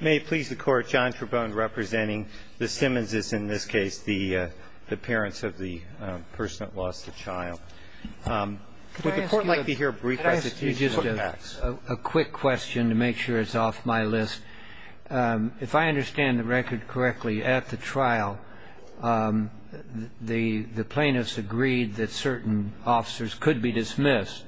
May it please the Court, John Trabone representing the Simmonses, in this case the parents of the person that lost a child. Would the Court like to hear a brief explanation of the facts? Could I ask you just a quick question to make sure it's off my list? If I understand the record correctly, at the trial the plaintiffs agreed that certain officers could be dismissed,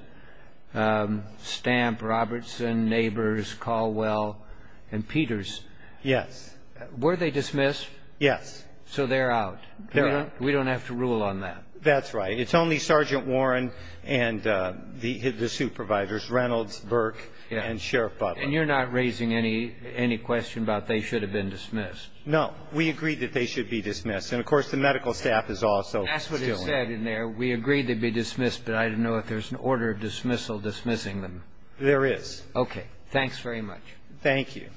Stamp, Robertson, Nabors, Caldwell, and Peters. Yes. Were they dismissed? Yes. So they're out. They're out. We don't have to rule on that. That's right. It's only Sergeant Warren and the suit providers, Reynolds, Burke, and Sheriff Butler. And you're not raising any question about they should have been dismissed? No. We agreed that they should be dismissed. And, of course, the medical staff is also still in there. We agreed they'd be dismissed, but I don't know if there's an order of dismissal dismissing them. There is. Okay. Thanks very much. Thank you.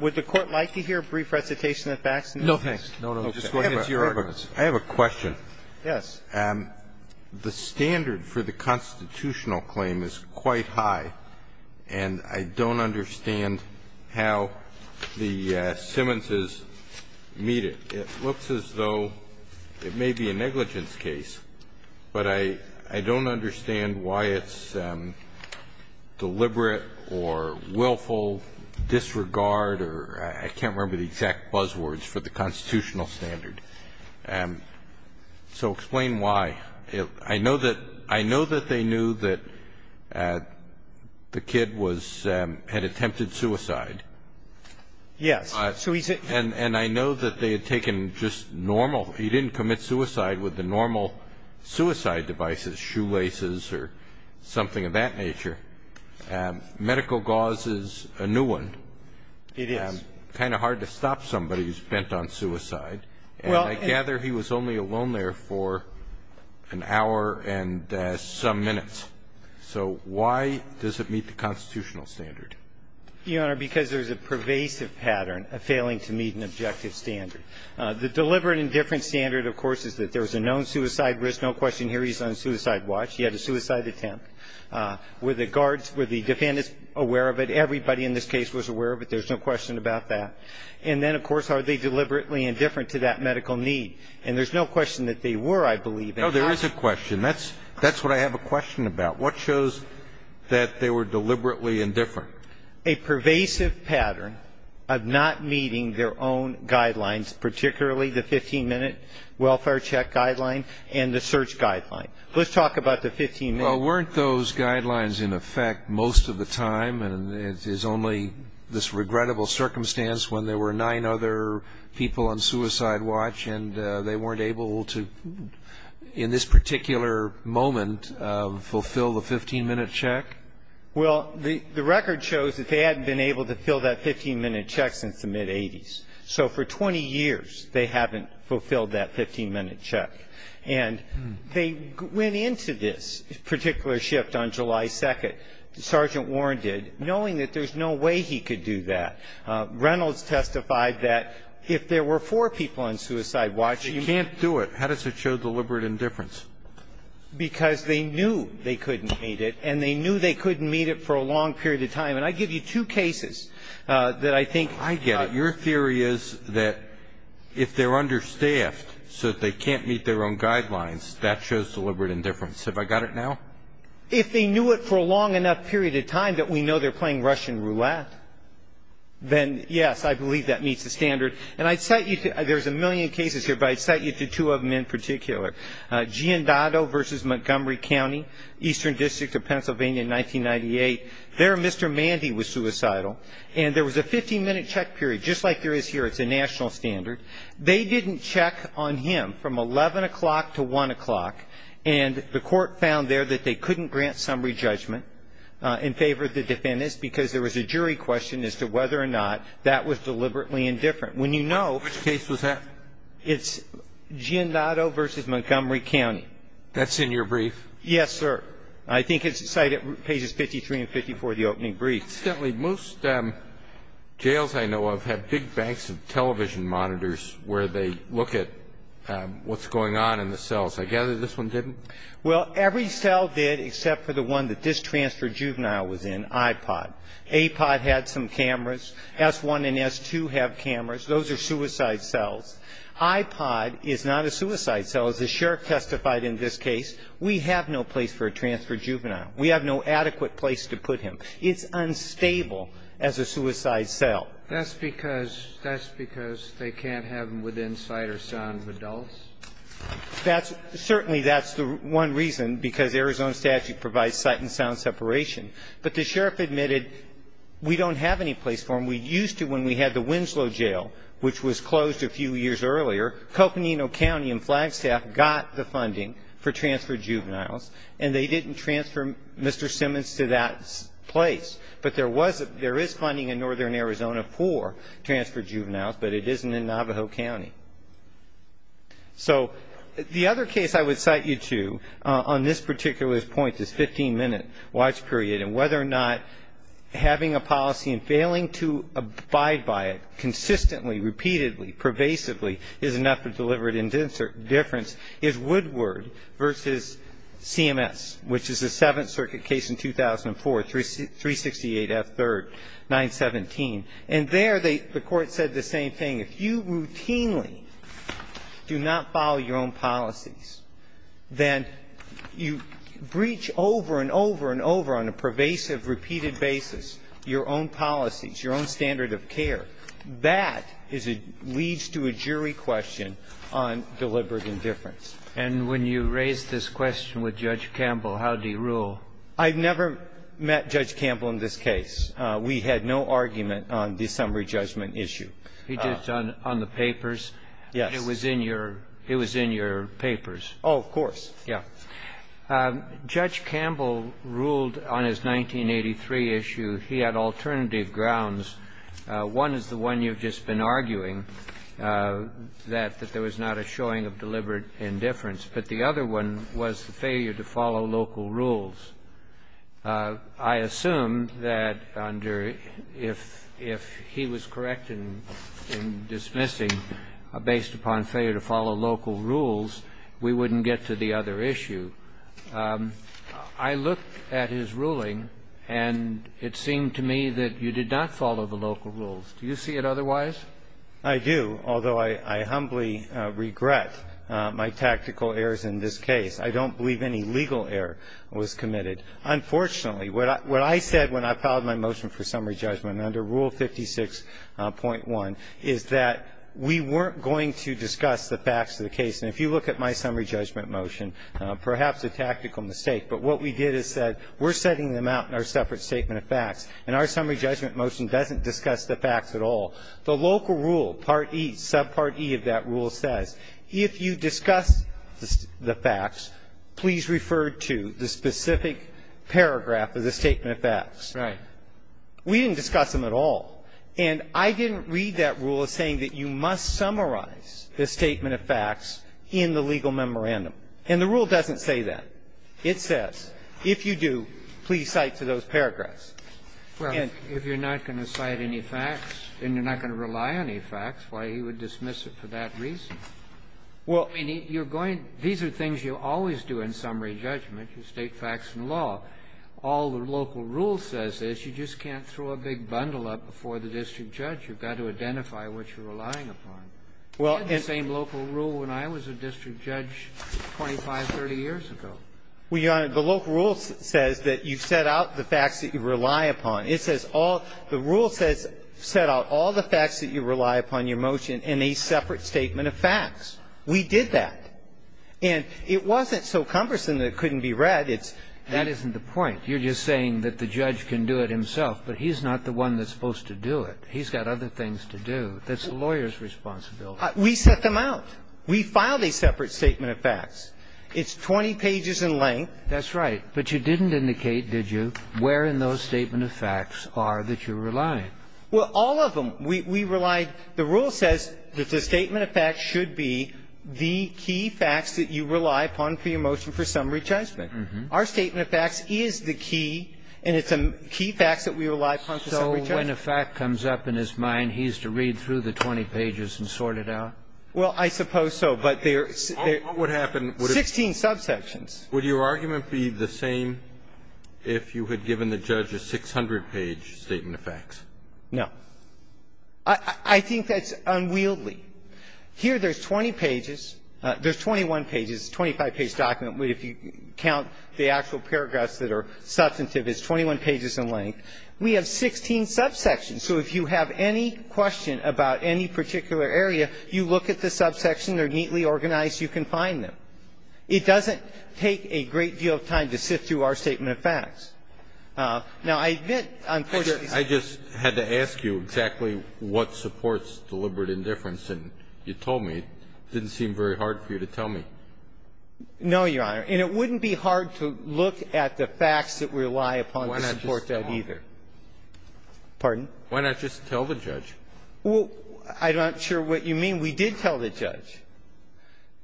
Would the Court like to hear a brief recitation of the facts? No, thanks. I have a question. Yes. The standard for the constitutional claim is quite high, and I don't understand how the Simmonses meet it. It looks as though it may be a negligence case, but I don't understand why it's deliberate or willful disregard or I can't remember the exact buzzwords for the constitutional standard. So explain why. I know that they knew that the kid had attempted suicide. Yes. And I know that they had taken just normal. He didn't commit suicide with the normal suicide devices, shoelaces or something of that nature. Medical gauze is a new one. It is. Kind of hard to stop somebody who's bent on suicide. And I gather he was only alone there for an hour and some minutes. So why does it meet the constitutional standard? Your Honor, because there's a pervasive pattern of failing to meet an objective standard. The deliberate indifference standard, of course, is that there's a known suicide risk. No question here he's on a suicide watch. He had a suicide attempt. Were the guards, were the defendants aware of it? Everybody in this case was aware of it. There's no question about that. And then, of course, are they deliberately indifferent to that medical need? And there's no question that they were, I believe. No, there is a question. That's what I have a question about. What shows that they were deliberately indifferent? Your Honor, a pervasive pattern of not meeting their own guidelines, particularly the 15-minute welfare check guideline and the search guideline. Let's talk about the 15-minute. Well, weren't those guidelines, in effect, most of the time? And it is only this regrettable circumstance when there were nine other people on suicide watch and they weren't able to, in this particular moment, fulfill the 15-minute check? Well, the record shows that they hadn't been able to fill that 15-minute check since the mid-'80s. So for 20 years, they haven't fulfilled that 15-minute check. And they went into this particular shift on July 2nd, Sergeant Warren did, knowing that there's no way he could do that. Reynolds testified that if there were four people on suicide watch, you can't do it. How does it show deliberate indifference? Because they knew they couldn't meet it, and they knew they couldn't meet it for a long period of time. And I give you two cases that I think ---- I get it. Your theory is that if they're understaffed so that they can't meet their own guidelines, that shows deliberate indifference. Have I got it now? If they knew it for a long enough period of time that we know they're playing Russian roulette, then, yes, I believe that meets the standard. And I'd cite you to ñ there's a million cases here, but I'd cite you to two of them in particular. Giandotto v. Montgomery County, Eastern District of Pennsylvania in 1998. There, Mr. Mandy was suicidal, and there was a 15-minute check period, just like there is here. It's a national standard. They didn't check on him from 11 o'clock to 1 o'clock, and the court found there that they couldn't grant summary judgment in favor of the defendants because there was a jury question as to whether or not that was deliberately indifferent. When you know ñ Which case was that? It's Giandotto v. Montgomery County. That's in your brief? Yes, sir. I think it's cited in pages 53 and 54 of the opening brief. Incidentally, most jails I know of have big banks of television monitors where they look at what's going on in the cells. I gather this one didn't? Well, every cell did except for the one that this transfer juvenile was in, iPod. iPod had some cameras. S-1 and S-2 have cameras. Those are suicide cells. iPod is not a suicide cell. As the sheriff testified in this case, we have no place for a transfer juvenile. We have no adequate place to put him. It's unstable as a suicide cell. That's because ñ that's because they can't have him within sight or sound of adults? That's ñ certainly that's the one reason, because Arizona statute provides sight and sound separation. But the sheriff admitted we don't have any place for him. And we used to when we had the Winslow Jail, which was closed a few years earlier, Coconino County and Flagstaff got the funding for transfer juveniles, and they didn't transfer Mr. Simmons to that place. But there was a ñ there is funding in northern Arizona for transfer juveniles, but it isn't in Navajo County. So the other case I would cite you to on this particular point, this 15-minute watch period, and whether or not having a policy and failing to abide by it consistently, repeatedly, pervasively, is enough to deliver a difference, is Woodward v. CMS, which is the Seventh Circuit case in 2004, 368 F. 3rd, 917. And there they ñ the Court said the same thing. If you routinely do not follow your own policies, then you breach over and over and over on a pervasive, repeated basis your own policies, your own standard of care. That is a ñ leads to a jury question on deliberate indifference. And when you raised this question with Judge Campbell, how did he rule? I've never met Judge Campbell in this case. We had no argument on the summary judgment issue. He did it on the papers. Yes. It was in your ñ it was in your papers. Oh, of course. Yeah. Judge Campbell ruled on his 1983 issue. He had alternative grounds. One is the one you've just been arguing, that there was not a showing of deliberate indifference. But the other one was the failure to follow local rules. I assume that under ñ if he was correct in dismissing based upon failure to follow local rules, we wouldn't get to the other issue. I looked at his ruling, and it seemed to me that you did not follow the local rules. Do you see it otherwise? I do, although I humbly regret my tactical errors in this case. I don't believe any legal error was committed. Unfortunately, what I said when I filed my motion for summary judgment under Rule 56.1 is that we weren't going to discuss the facts of the case. And if you look at my summary judgment motion, perhaps a tactical mistake, but what we did is said we're setting them out in our separate statement of facts, and our summary judgment motion doesn't discuss the facts at all. The local rule, Part E, subpart E of that rule says, if you discuss the facts, please refer to the specific paragraph of the statement of facts. Right. We didn't discuss them at all. And I didn't read that rule as saying that you must summarize the statement of facts in the legal memorandum. And the rule doesn't say that. It says, if you do, please cite to those paragraphs. And ñ Well, if you're not going to cite any facts, and you're not going to rely on any facts, why, he would dismiss it for that reason. Well ñ I mean, you're going ñ these are things you always do in summary judgment. You state facts in law. All the local rule says is you just can't throw a big bundle up before the district judge. You've got to identify what you're relying upon. You had the same local rule when I was a district judge 25, 30 years ago. Well, Your Honor, the local rule says that you set out the facts that you rely upon. It says all ñ the rule says set out all the facts that you rely upon in your motion in a separate statement of facts. We did that. And it wasn't so cumbersome that it couldn't be read. That isn't the point. You're just saying that the judge can do it himself. But he's not the one that's supposed to do it. He's got other things to do. That's the lawyer's responsibility. We set them out. We filed a separate statement of facts. It's 20 pages in length. That's right. But you didn't indicate, did you, where in those statement of facts are that you're relying? Well, all of them. We relied ñ the rule says that the statement of facts should be the key facts that you rely upon for your motion for summary judgment. Our statement of facts is the key. And it's the key facts that we rely upon for summary judgment. So when a fact comes up in his mind, he's to read through the 20 pages and sort it out? Well, I suppose so. But there are 16 subsections. Would your argument be the same if you had given the judge a 600-page statement of facts? No. I think that's unwieldy. Here there's 20 pages. There's 21 pages, 25-page document. If you count the actual paragraphs that are substantive, it's 21 pages in length. We have 16 subsections. So if you have any question about any particular area, you look at the subsection. They're neatly organized. You can find them. It doesn't take a great deal of time to sift through our statement of facts. Now, I admit, unfortunately ñ I just had to ask you exactly what supports deliberate indifference. And you told me. It didn't seem very hard for you to tell me. No, Your Honor. And it wouldn't be hard to look at the facts that rely upon to support that either. Why not just tell them? Pardon? Why not just tell the judge? Well, I'm not sure what you mean. We did tell the judge.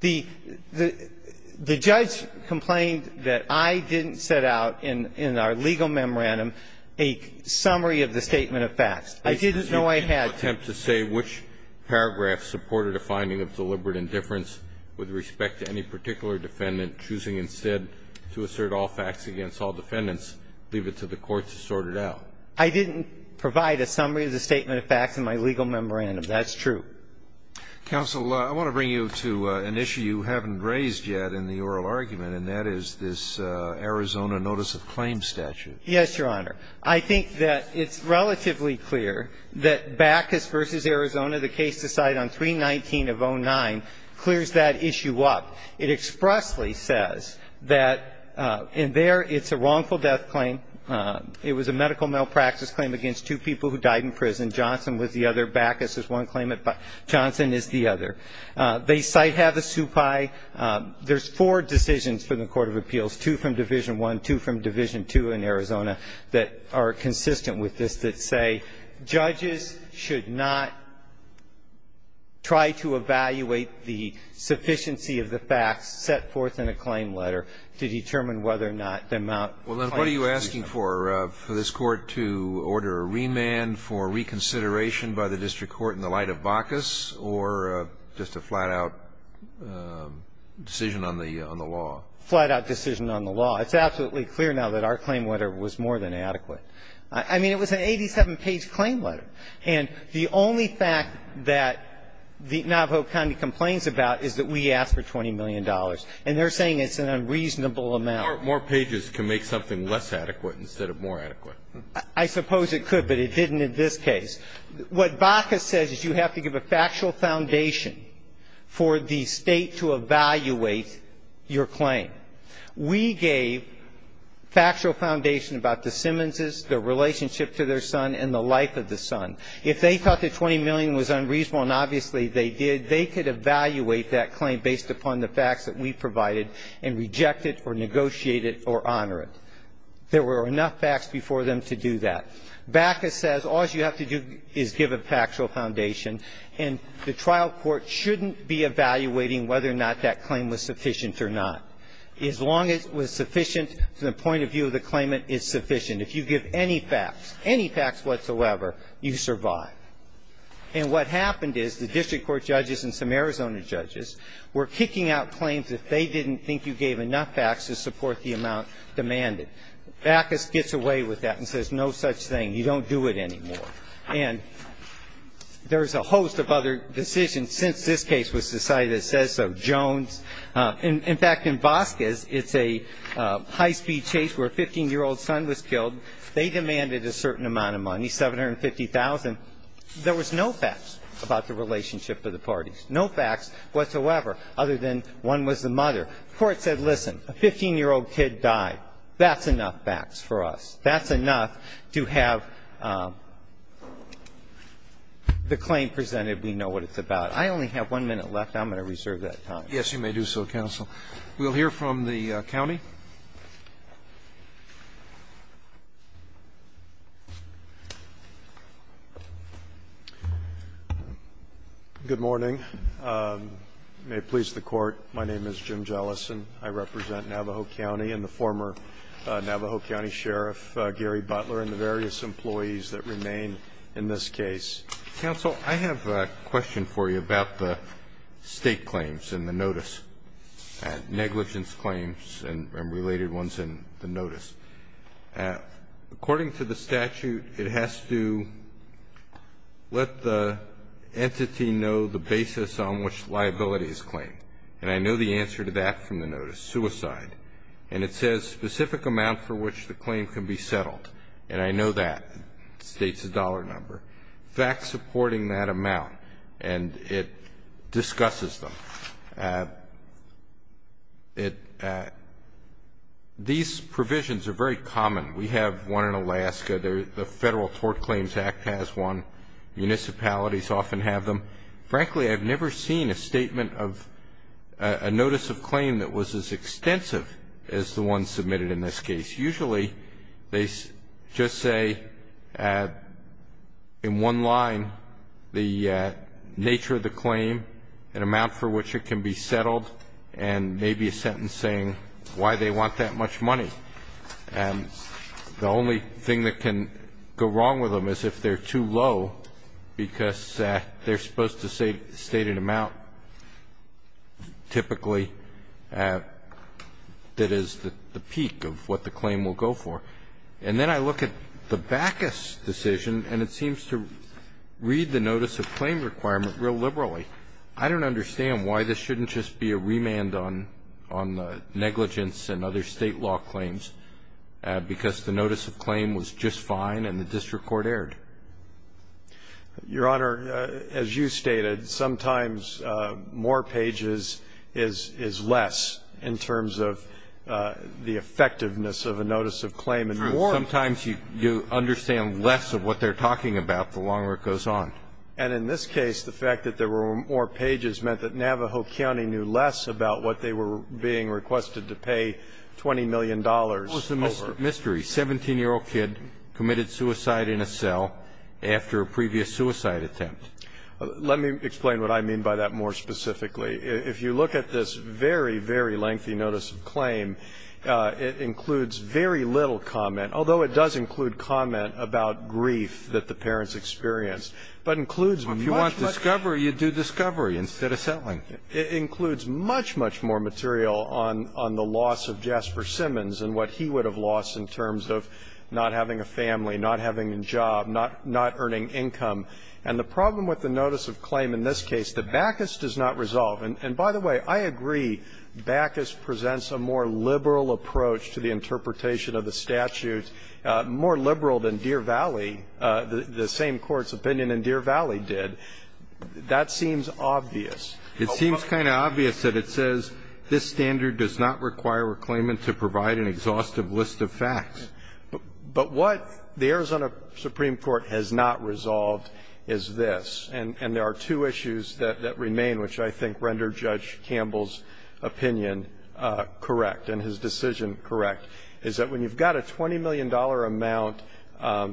The judge complained that I didn't set out in our legal memorandum a summary of the statement of facts. I didn't know I had to. I didn't attempt to say which paragraph supported a finding of deliberate indifference with respect to any particular defendant, choosing instead to assert all facts against all defendants, leave it to the court to sort it out. I didn't provide a summary of the statement of facts in my legal memorandum. That's true. Counsel, I want to bring you to an issue you haven't raised yet in the oral argument, and that is this Arizona notice of claims statute. Yes, Your Honor. I think that it's relatively clear that Bacchus v. Arizona, the case decided on 319 of 09, clears that issue up. It expressly says that in there it's a wrongful death claim. It was a medical malpractice claim against two people who died in prison. Johnson was the other. Bacchus is one claimant. Johnson is the other. They cite Havasupai. There's four decisions from the court of appeals, two from Division I, two from Division II in Arizona, that are consistent with this, that say judges should not try to evaluate the sufficiency of the facts set forth in a claim letter to determine whether or not the amount of claims is sufficient. Well, then what are you asking for, for this Court to order a remand for reconsideration by the district court in the light of Bacchus, or just a flat-out decision on the law? Flat-out decision on the law. It's absolutely clear now that our claim letter was more than adequate. I mean, it was an 87-page claim letter. And the only fact that Navajo County complains about is that we asked for $20 million. And they're saying it's an unreasonable amount. More pages can make something less adequate instead of more adequate. I suppose it could, but it didn't in this case. What Bacchus says is you have to give a factual foundation for the State to evaluate your claim. We gave factual foundation about the Simmonses, their relationship to their son, and the life of the son. If they thought that $20 million was unreasonable, and obviously they did, they could evaluate that claim based upon the facts that we provided and reject it or negotiate it or honor it. There were enough facts before them to do that. Bacchus says all you have to do is give a factual foundation, and the trial court shouldn't be evaluating whether or not that claim was sufficient or not. As long as it was sufficient from the point of view of the claimant, it's sufficient. If you give any facts, any facts whatsoever, you survive. And what happened is the district court judges and some Arizona judges were kicking out claims that they didn't think you gave enough facts to support the amount demanded. Bacchus gets away with that and says no such thing. You don't do it anymore. And there's a host of other decisions since this case was decided that says so. In fact, in Vasquez, it's a high-speed chase where a 15-year-old son was killed. They demanded a certain amount of money, $750,000. There was no facts about the relationship of the parties, no facts whatsoever other than one was the mother. The court said, listen, a 15-year-old kid died. That's enough facts for us. That's enough to have the claim presented. We know what it's about. I only have one minute left. I'm going to reserve that time. Roberts. Yes, you may do so, counsel. We'll hear from the county. Good morning. May it please the Court. My name is Jim Jellison. I represent Navajo County and the former Navajo County Sheriff Gary Butler and the various employees that remain in this case. Counsel, I have a question for you about the state claims in the notice, negligence claims and related ones in the notice. According to the statute, it has to let the entity know the basis on which liability is claimed. And I know the answer to that from the notice, suicide. And it says specific amount for which the claim can be settled. And I know that. It states a dollar number. Facts supporting that amount. And it discusses them. These provisions are very common. We have one in Alaska. The Federal Tort Claims Act has one. Municipalities often have them. Frankly, I've never seen a statement of a notice of claim that was as extensive as the one submitted in this case. Usually they just say in one line the nature of the claim, an amount for which it can be settled, and maybe a sentence saying why they want that much money. And the only thing that can go wrong with them is if they're too low, because they're supposed to state an amount, typically, that is the peak of what the claim will go for. And then I look at the Backus decision, and it seems to read the notice of claim requirement real liberally. I don't understand why this shouldn't just be a remand on negligence and other State law claims because the notice of claim was just fine and the district court erred. Your Honor, as you stated, sometimes more pages is less in terms of the effectiveness of a notice of claim and more. Sometimes you understand less of what they're talking about the longer it goes on. And in this case, the fact that there were more pages meant that Navajo County knew less about what they were being requested to pay $20 million over. What was the mystery? A 17-year-old kid committed suicide in a cell after a previous suicide attempt. Let me explain what I mean by that more specifically. If you look at this very, very lengthy notice of claim, it includes very little comment, although it does include comment about grief that the parents experienced, but includes much more. But if you want discovery, you do discovery instead of settling. It includes much, much more material on the loss of Jasper Simmons and what he would have lost in terms of not having a family, not having a job, not earning income. And the problem with the notice of claim in this case, the backest does not resolve. And by the way, I agree backest presents a more liberal approach to the interpretation of the statute, more liberal than Deer Valley, the same Court's opinion in Deer Valley did. That seems obvious. It seems kind of obvious that it says this standard does not require reclaimant to provide an exhaustive list of facts. But what the Arizona Supreme Court has not resolved is this. And there are two issues that remain, which I think render Judge Campbell's opinion correct and his decision correct, is that when you've got a $20 million amount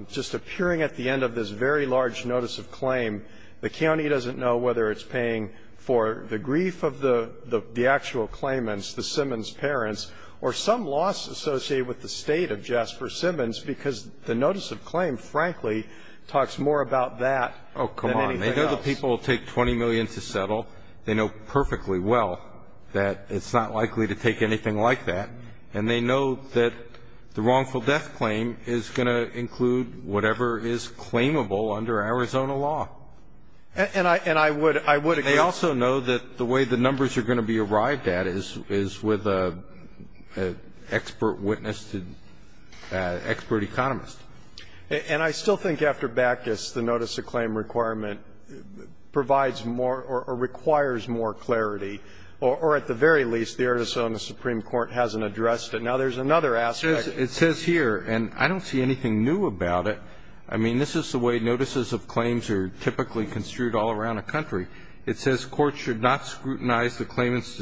just appearing at the end of this very large notice of claim, the county doesn't know whether it's paying for the grief of the actual claimants, the Simmons parents, or some loss associated with the state of Jasper Simmons because the notice of claim, frankly, talks more about that than anything else. Oh, come on. They know the people will take $20 million to settle. They know perfectly well that it's not likely to take anything like that. And they know that the wrongful death claim is going to include whatever is claimable under Arizona law. And I would agree. They also know that the way the numbers are going to be arrived at is with an expert witness, expert economist. And I still think after Bactus, the notice of claim requirement provides more or requires more clarity, or at the very least, the Arizona Supreme Court hasn't addressed it. Now, there's another aspect. It says here, and I don't see anything new about it. I mean, this is the way notices of claims are typically construed all around a country. It says, And I'm not disagreeing with that.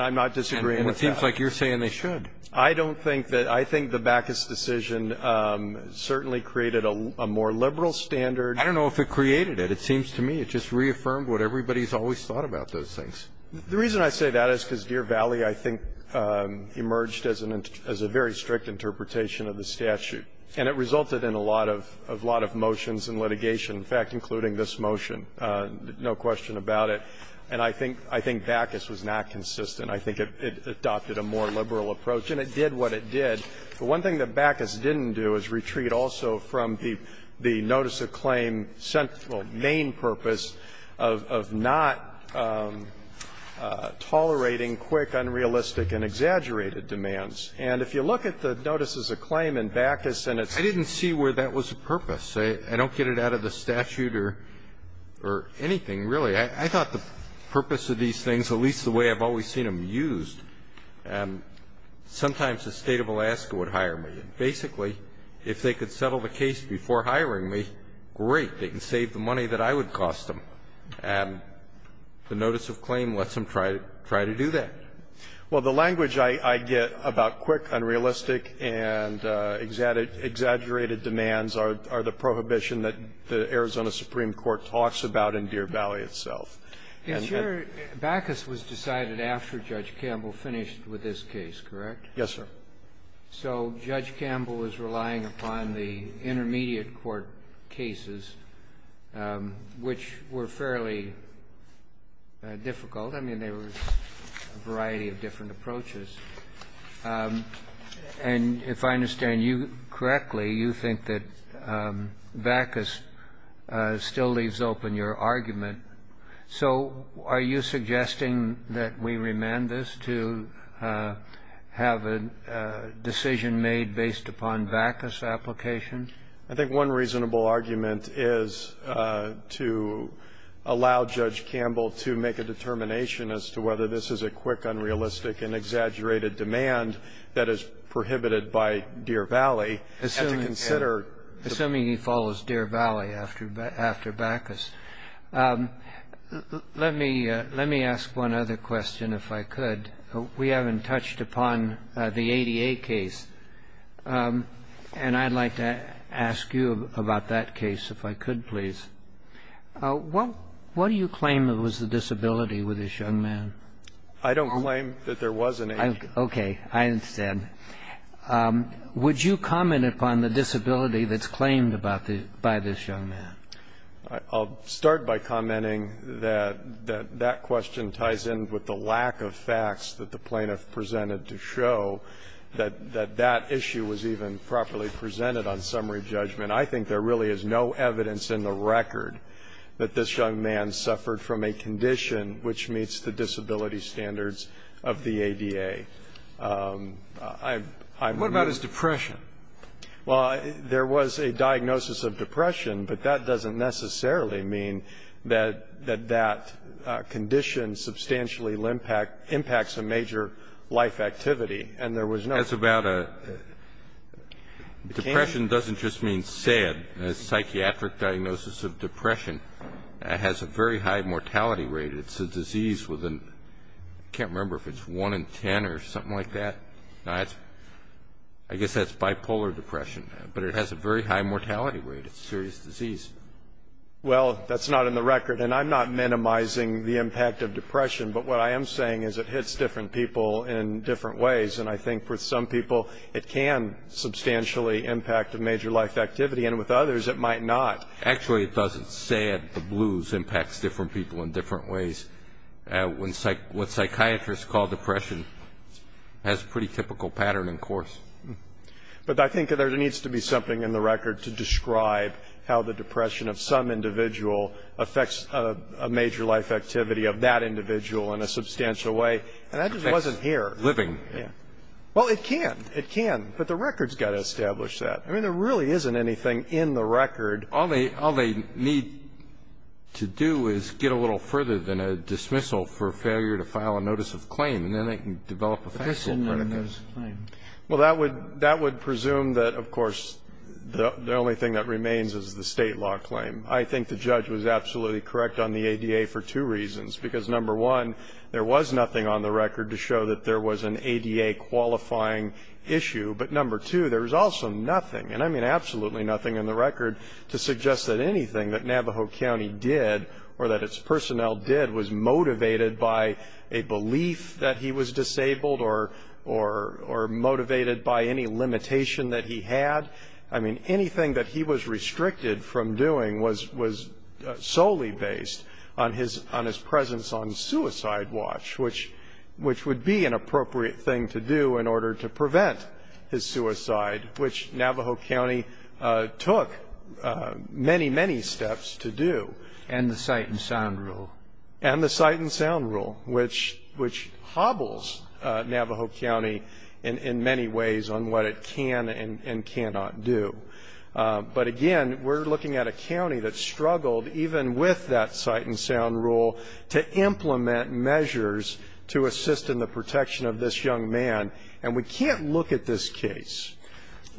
And it seems like you're saying they should. I don't think that. I think the Bactus decision certainly created a more liberal standard. I don't know if it created it. It seems to me it just reaffirmed what everybody's always thought about those things. The reason I say that is because Deer Valley, I think, emerged as a very strict interpretation of the statute, and it resulted in a lot of motions and litigation, in fact, including this motion. No question about it. And I think Bactus was not consistent. I think it adopted a more liberal approach, and it did what it did. The one thing that Bactus didn't do is retreat also from the notice of claim main purpose of not tolerating quick, unrealistic, and exaggerated demands. And if you look at the notices of claim in Bactus, and it's the same thing here. I didn't see where that was the purpose. I don't get it out of the statute or anything, really. I thought the purpose of these things, at least the way I've always seen them used, sometimes the State of Alaska would hire me. Basically, if they could settle the case before hiring me, great. They can save the money that I would cost them. And the notice of claim lets them try to do that. Well, the language I get about quick, unrealistic, and exaggerated demands are the prohibition that the Arizona Supreme Court talks about in Deer Valley itself. And your ---- Bactus was decided after Judge Campbell finished with this case, correct? Yes, sir. So Judge Campbell was relying upon the intermediate court cases, which were fairly difficult. I mean, they were a variety of different approaches. And if I understand you correctly, you think that Bactus still leaves open your argument. So are you suggesting that we remand this to have a decision made based upon Bactus' application? I think one reasonable argument is to allow Judge Campbell to make a determination as to whether this is a quick, unrealistic, and exaggerated demand that is prohibited by Deer Valley and to consider ---- Assuming he follows Deer Valley after Bactus. Let me ask one other question, if I could. We haven't touched upon the 88 case. And I'd like to ask you about that case, if I could, please. What do you claim was the disability with this young man? I don't claim that there was an 88. Okay. I understand. Would you comment upon the disability that's claimed by this young man? I'll start by commenting that that question ties in with the lack of facts that the that issue was even properly presented on summary judgment. I think there really is no evidence in the record that this young man suffered from a condition which meets the disability standards of the ADA. What about his depression? Well, there was a diagnosis of depression, but that doesn't necessarily mean that that condition substantially impacts a major life activity. And there was no ---- That's about a ---- depression doesn't just mean sad. A psychiatric diagnosis of depression has a very high mortality rate. It's a disease with a ---- I can't remember if it's 1 in 10 or something like that. I guess that's bipolar depression. But it has a very high mortality rate. It's a serious disease. Well, that's not in the record. And I'm not minimizing the impact of depression. But what I am saying is it hits different people in different ways. And I think with some people it can substantially impact a major life activity, and with others it might not. Actually, it doesn't. Sad, the blues, impacts different people in different ways. What psychiatrists call depression has a pretty typical pattern and course. But I think there needs to be something in the record to describe how the depression of some individual affects a major life activity of that individual in a substantial way. And that just wasn't here. It affects living. Yeah. Well, it can. It can. But the record's got to establish that. I mean, there really isn't anything in the record. All they need to do is get a little further than a dismissal for failure to file a notice of claim, and then they can develop a factual verdict. But this isn't a notice of claim. Well, that would presume that, of course, the only thing that remains is the state law claim. I think the judge was absolutely correct on the ADA for two reasons. Because, number one, there was nothing on the record to show that there was an ADA qualifying issue. But, number two, there was also nothing, and I mean absolutely nothing, in the record to suggest that anything that Navajo County did or that its personnel did was motivated by a belief that he was disabled or motivated by any limitation that he had. I mean, anything that he was restricted from doing was solely based on his presence on suicide watch, which would be an appropriate thing to do in order to prevent his suicide, which Navajo County took many, many steps to do. And the sight and sound rule. And the sight and sound rule, which hobbles Navajo County in many ways on what it can and cannot do. But, again, we're looking at a county that struggled, even with that sight and sound rule, to implement measures to assist in the protection of this young man. And we can't look at this case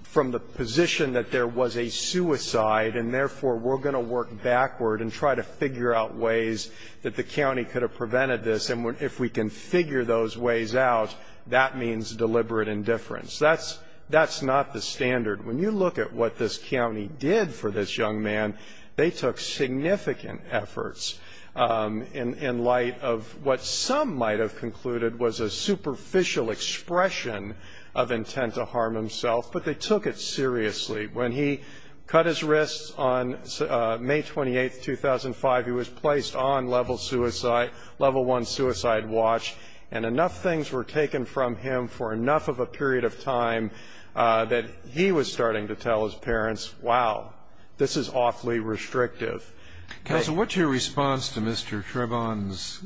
from the position that there was a suicide and, therefore, we're going to work backward and try to figure out ways that the county could have prevented this. And if we can figure those ways out, that means deliberate indifference. That's not the standard. When you look at what this county did for this young man, they took significant efforts in light of what some might have concluded was a superficial expression of intent to harm himself, but they took it seriously. When he cut his wrists on May 28, 2005, he was placed on level suicide, level one suicide watch, and enough things were taken from him for enough of a period of time that he was starting to tell his parents, wow, this is awfully restrictive. Counsel, what's your response to Mr. Trebon's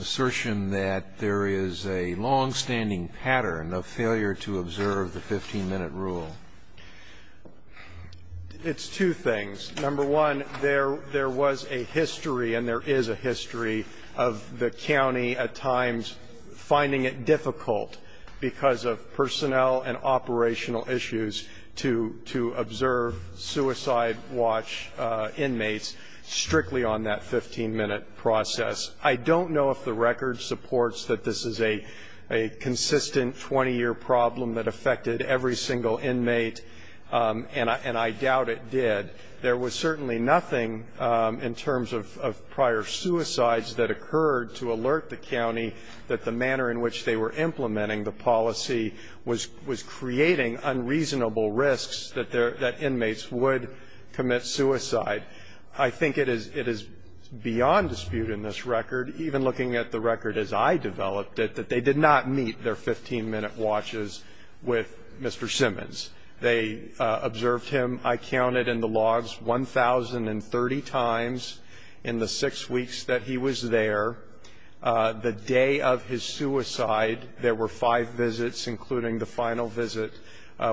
assertion that there is a longstanding pattern of failure to observe the 15-minute rule? It's two things. Number one, there was a history and there is a history of the county at times finding it difficult because of personnel and operational issues to observe suicide watch inmates strictly on that 15-minute process. I don't know if the record supports that this is a consistent 20-year problem that affected every single inmate, and I doubt it did. There was certainly nothing in terms of prior suicides that occurred to alert the county that the manner in which they were implementing the policy was creating unreasonable risks that inmates would commit suicide. I think it is beyond dispute in this record, even looking at the record as I developed it, that they did not meet their 15-minute watches with Mr. Simmons. They observed him, I counted, in the logs 1,030 times in the six weeks that he was there. The day of his suicide, there were five visits, including the final visit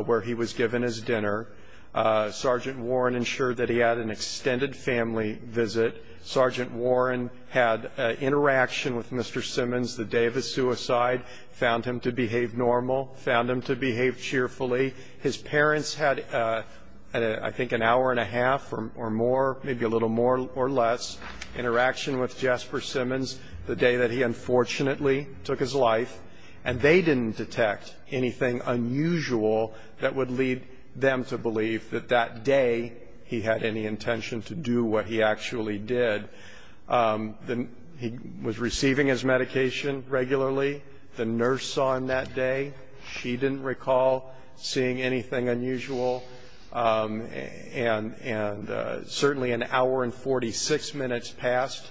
where he was given his dinner. Sergeant Warren ensured that he had an extended family visit. Sergeant Warren had interaction with Mr. Simmons the day of his suicide, found him to behave normal, found him to behave cheerfully. His parents had, I think, an hour and a half or more, maybe a little more or less, interaction with Jesper Simmons the day that he unfortunately took his life, and they didn't detect anything unusual that would lead them to believe that that day he had any intention to do what he actually did. He was receiving his medication regularly. The nurse saw him that day. She didn't recall seeing anything unusual. And certainly an hour and 46 minutes passed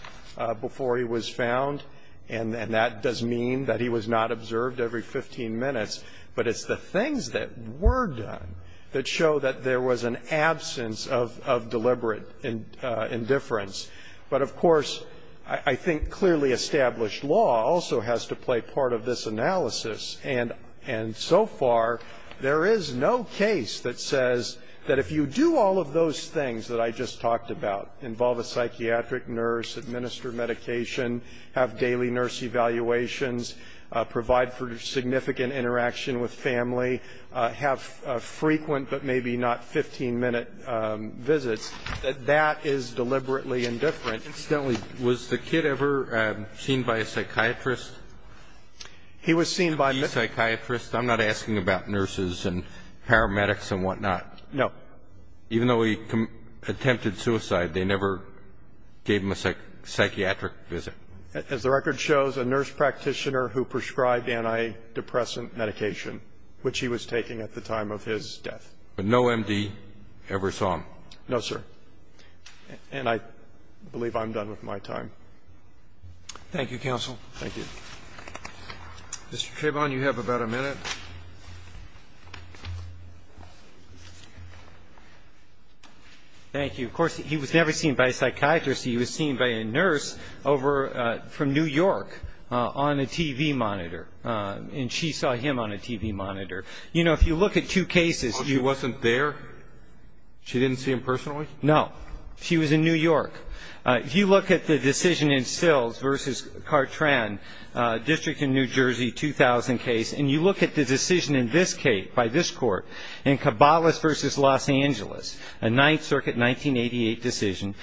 before he was found, and that does mean that he was not observed every 15 minutes. But it's the things that were done that show that there was an absence of deliberate indifference. But, of course, I think clearly established law also has to play part of this analysis, and so far there is no case that says that if you do all of those things that I just talked about, involve a psychiatric nurse, administer medication, have daily nurse evaluations, provide for significant interaction with family, have frequent but maybe not 15-minute visits, that that is deliberately indifferent. Incidentally, was the kid ever seen by a psychiatrist? He was seen by the psychiatrist. I'm not asking about nurses and paramedics and whatnot. No. Even though he attempted suicide, they never gave him a psychiatric visit. As the record shows, a nurse practitioner who prescribed antidepressant medication, which he was taking at the time of his death. But no MD ever saw him? No, sir. And I believe I'm done with my time. Thank you, counsel. Thank you. Mr. Trayvon, you have about a minute. Thank you. Of course, he was never seen by a psychiatrist. He was seen by a nurse over from New York on a TV monitor. And she saw him on a TV monitor. You know, if you look at two cases. She wasn't there? She didn't see him personally? No. She was in New York. If you look at the decision in Sills v. Cartran, District of New Jersey, 2000 case, and you look at the decision in this case by this Court in Cabales v. Los Angeles, a 9th Circuit, 1988 decision,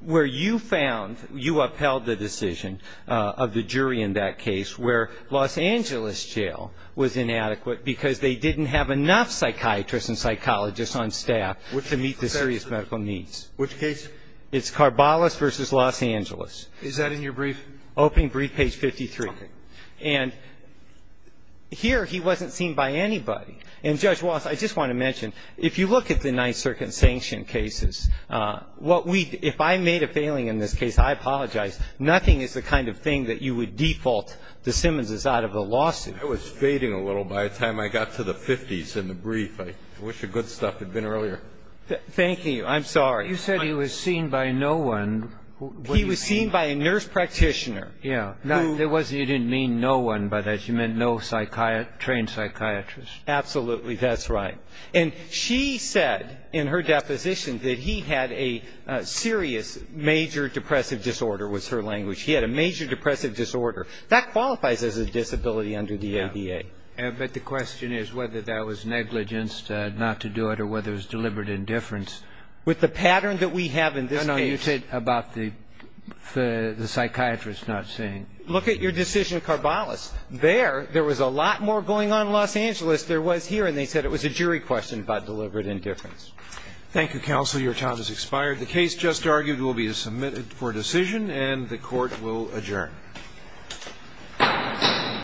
where you found, you upheld the decision of the jury in that case where Los Angeles jail was inadequate because they didn't have enough psychiatrists and psychologists on staff to meet the serious medical needs. Which case? It's Carbales v. Los Angeles. Is that in your brief? Open brief, page 53. Okay. And here he wasn't seen by anybody. And, Judge Wallace, I just want to mention, if you look at the 9th Circuit sanctioned cases, what we do, if I made a failing in this case, I apologize, nothing is the kind of thing that you would default the Simmonses out of a lawsuit. I was fading a little by the time I got to the 50s in the brief. I wish the good stuff had been earlier. Thank you. I'm sorry. You said he was seen by no one. He was seen by a nurse practitioner. Yeah. You didn't mean no one by that. You meant no trained psychiatrist. Absolutely. That's right. And she said in her deposition that he had a serious major depressive disorder was her language. He had a major depressive disorder. That qualifies as a disability under the ADA. But the question is whether that was negligence not to do it or whether it was deliberate indifference. With the pattern that we have in this case. No, no, you said about the psychiatrist not seeing. Look at your decision, Carbales. There, there was a lot more going on in Los Angeles than there was here, and they said it was a jury question about deliberate indifference. Thank you, counsel. Your time has expired. The case just argued will be submitted for decision, and the Court will adjourn.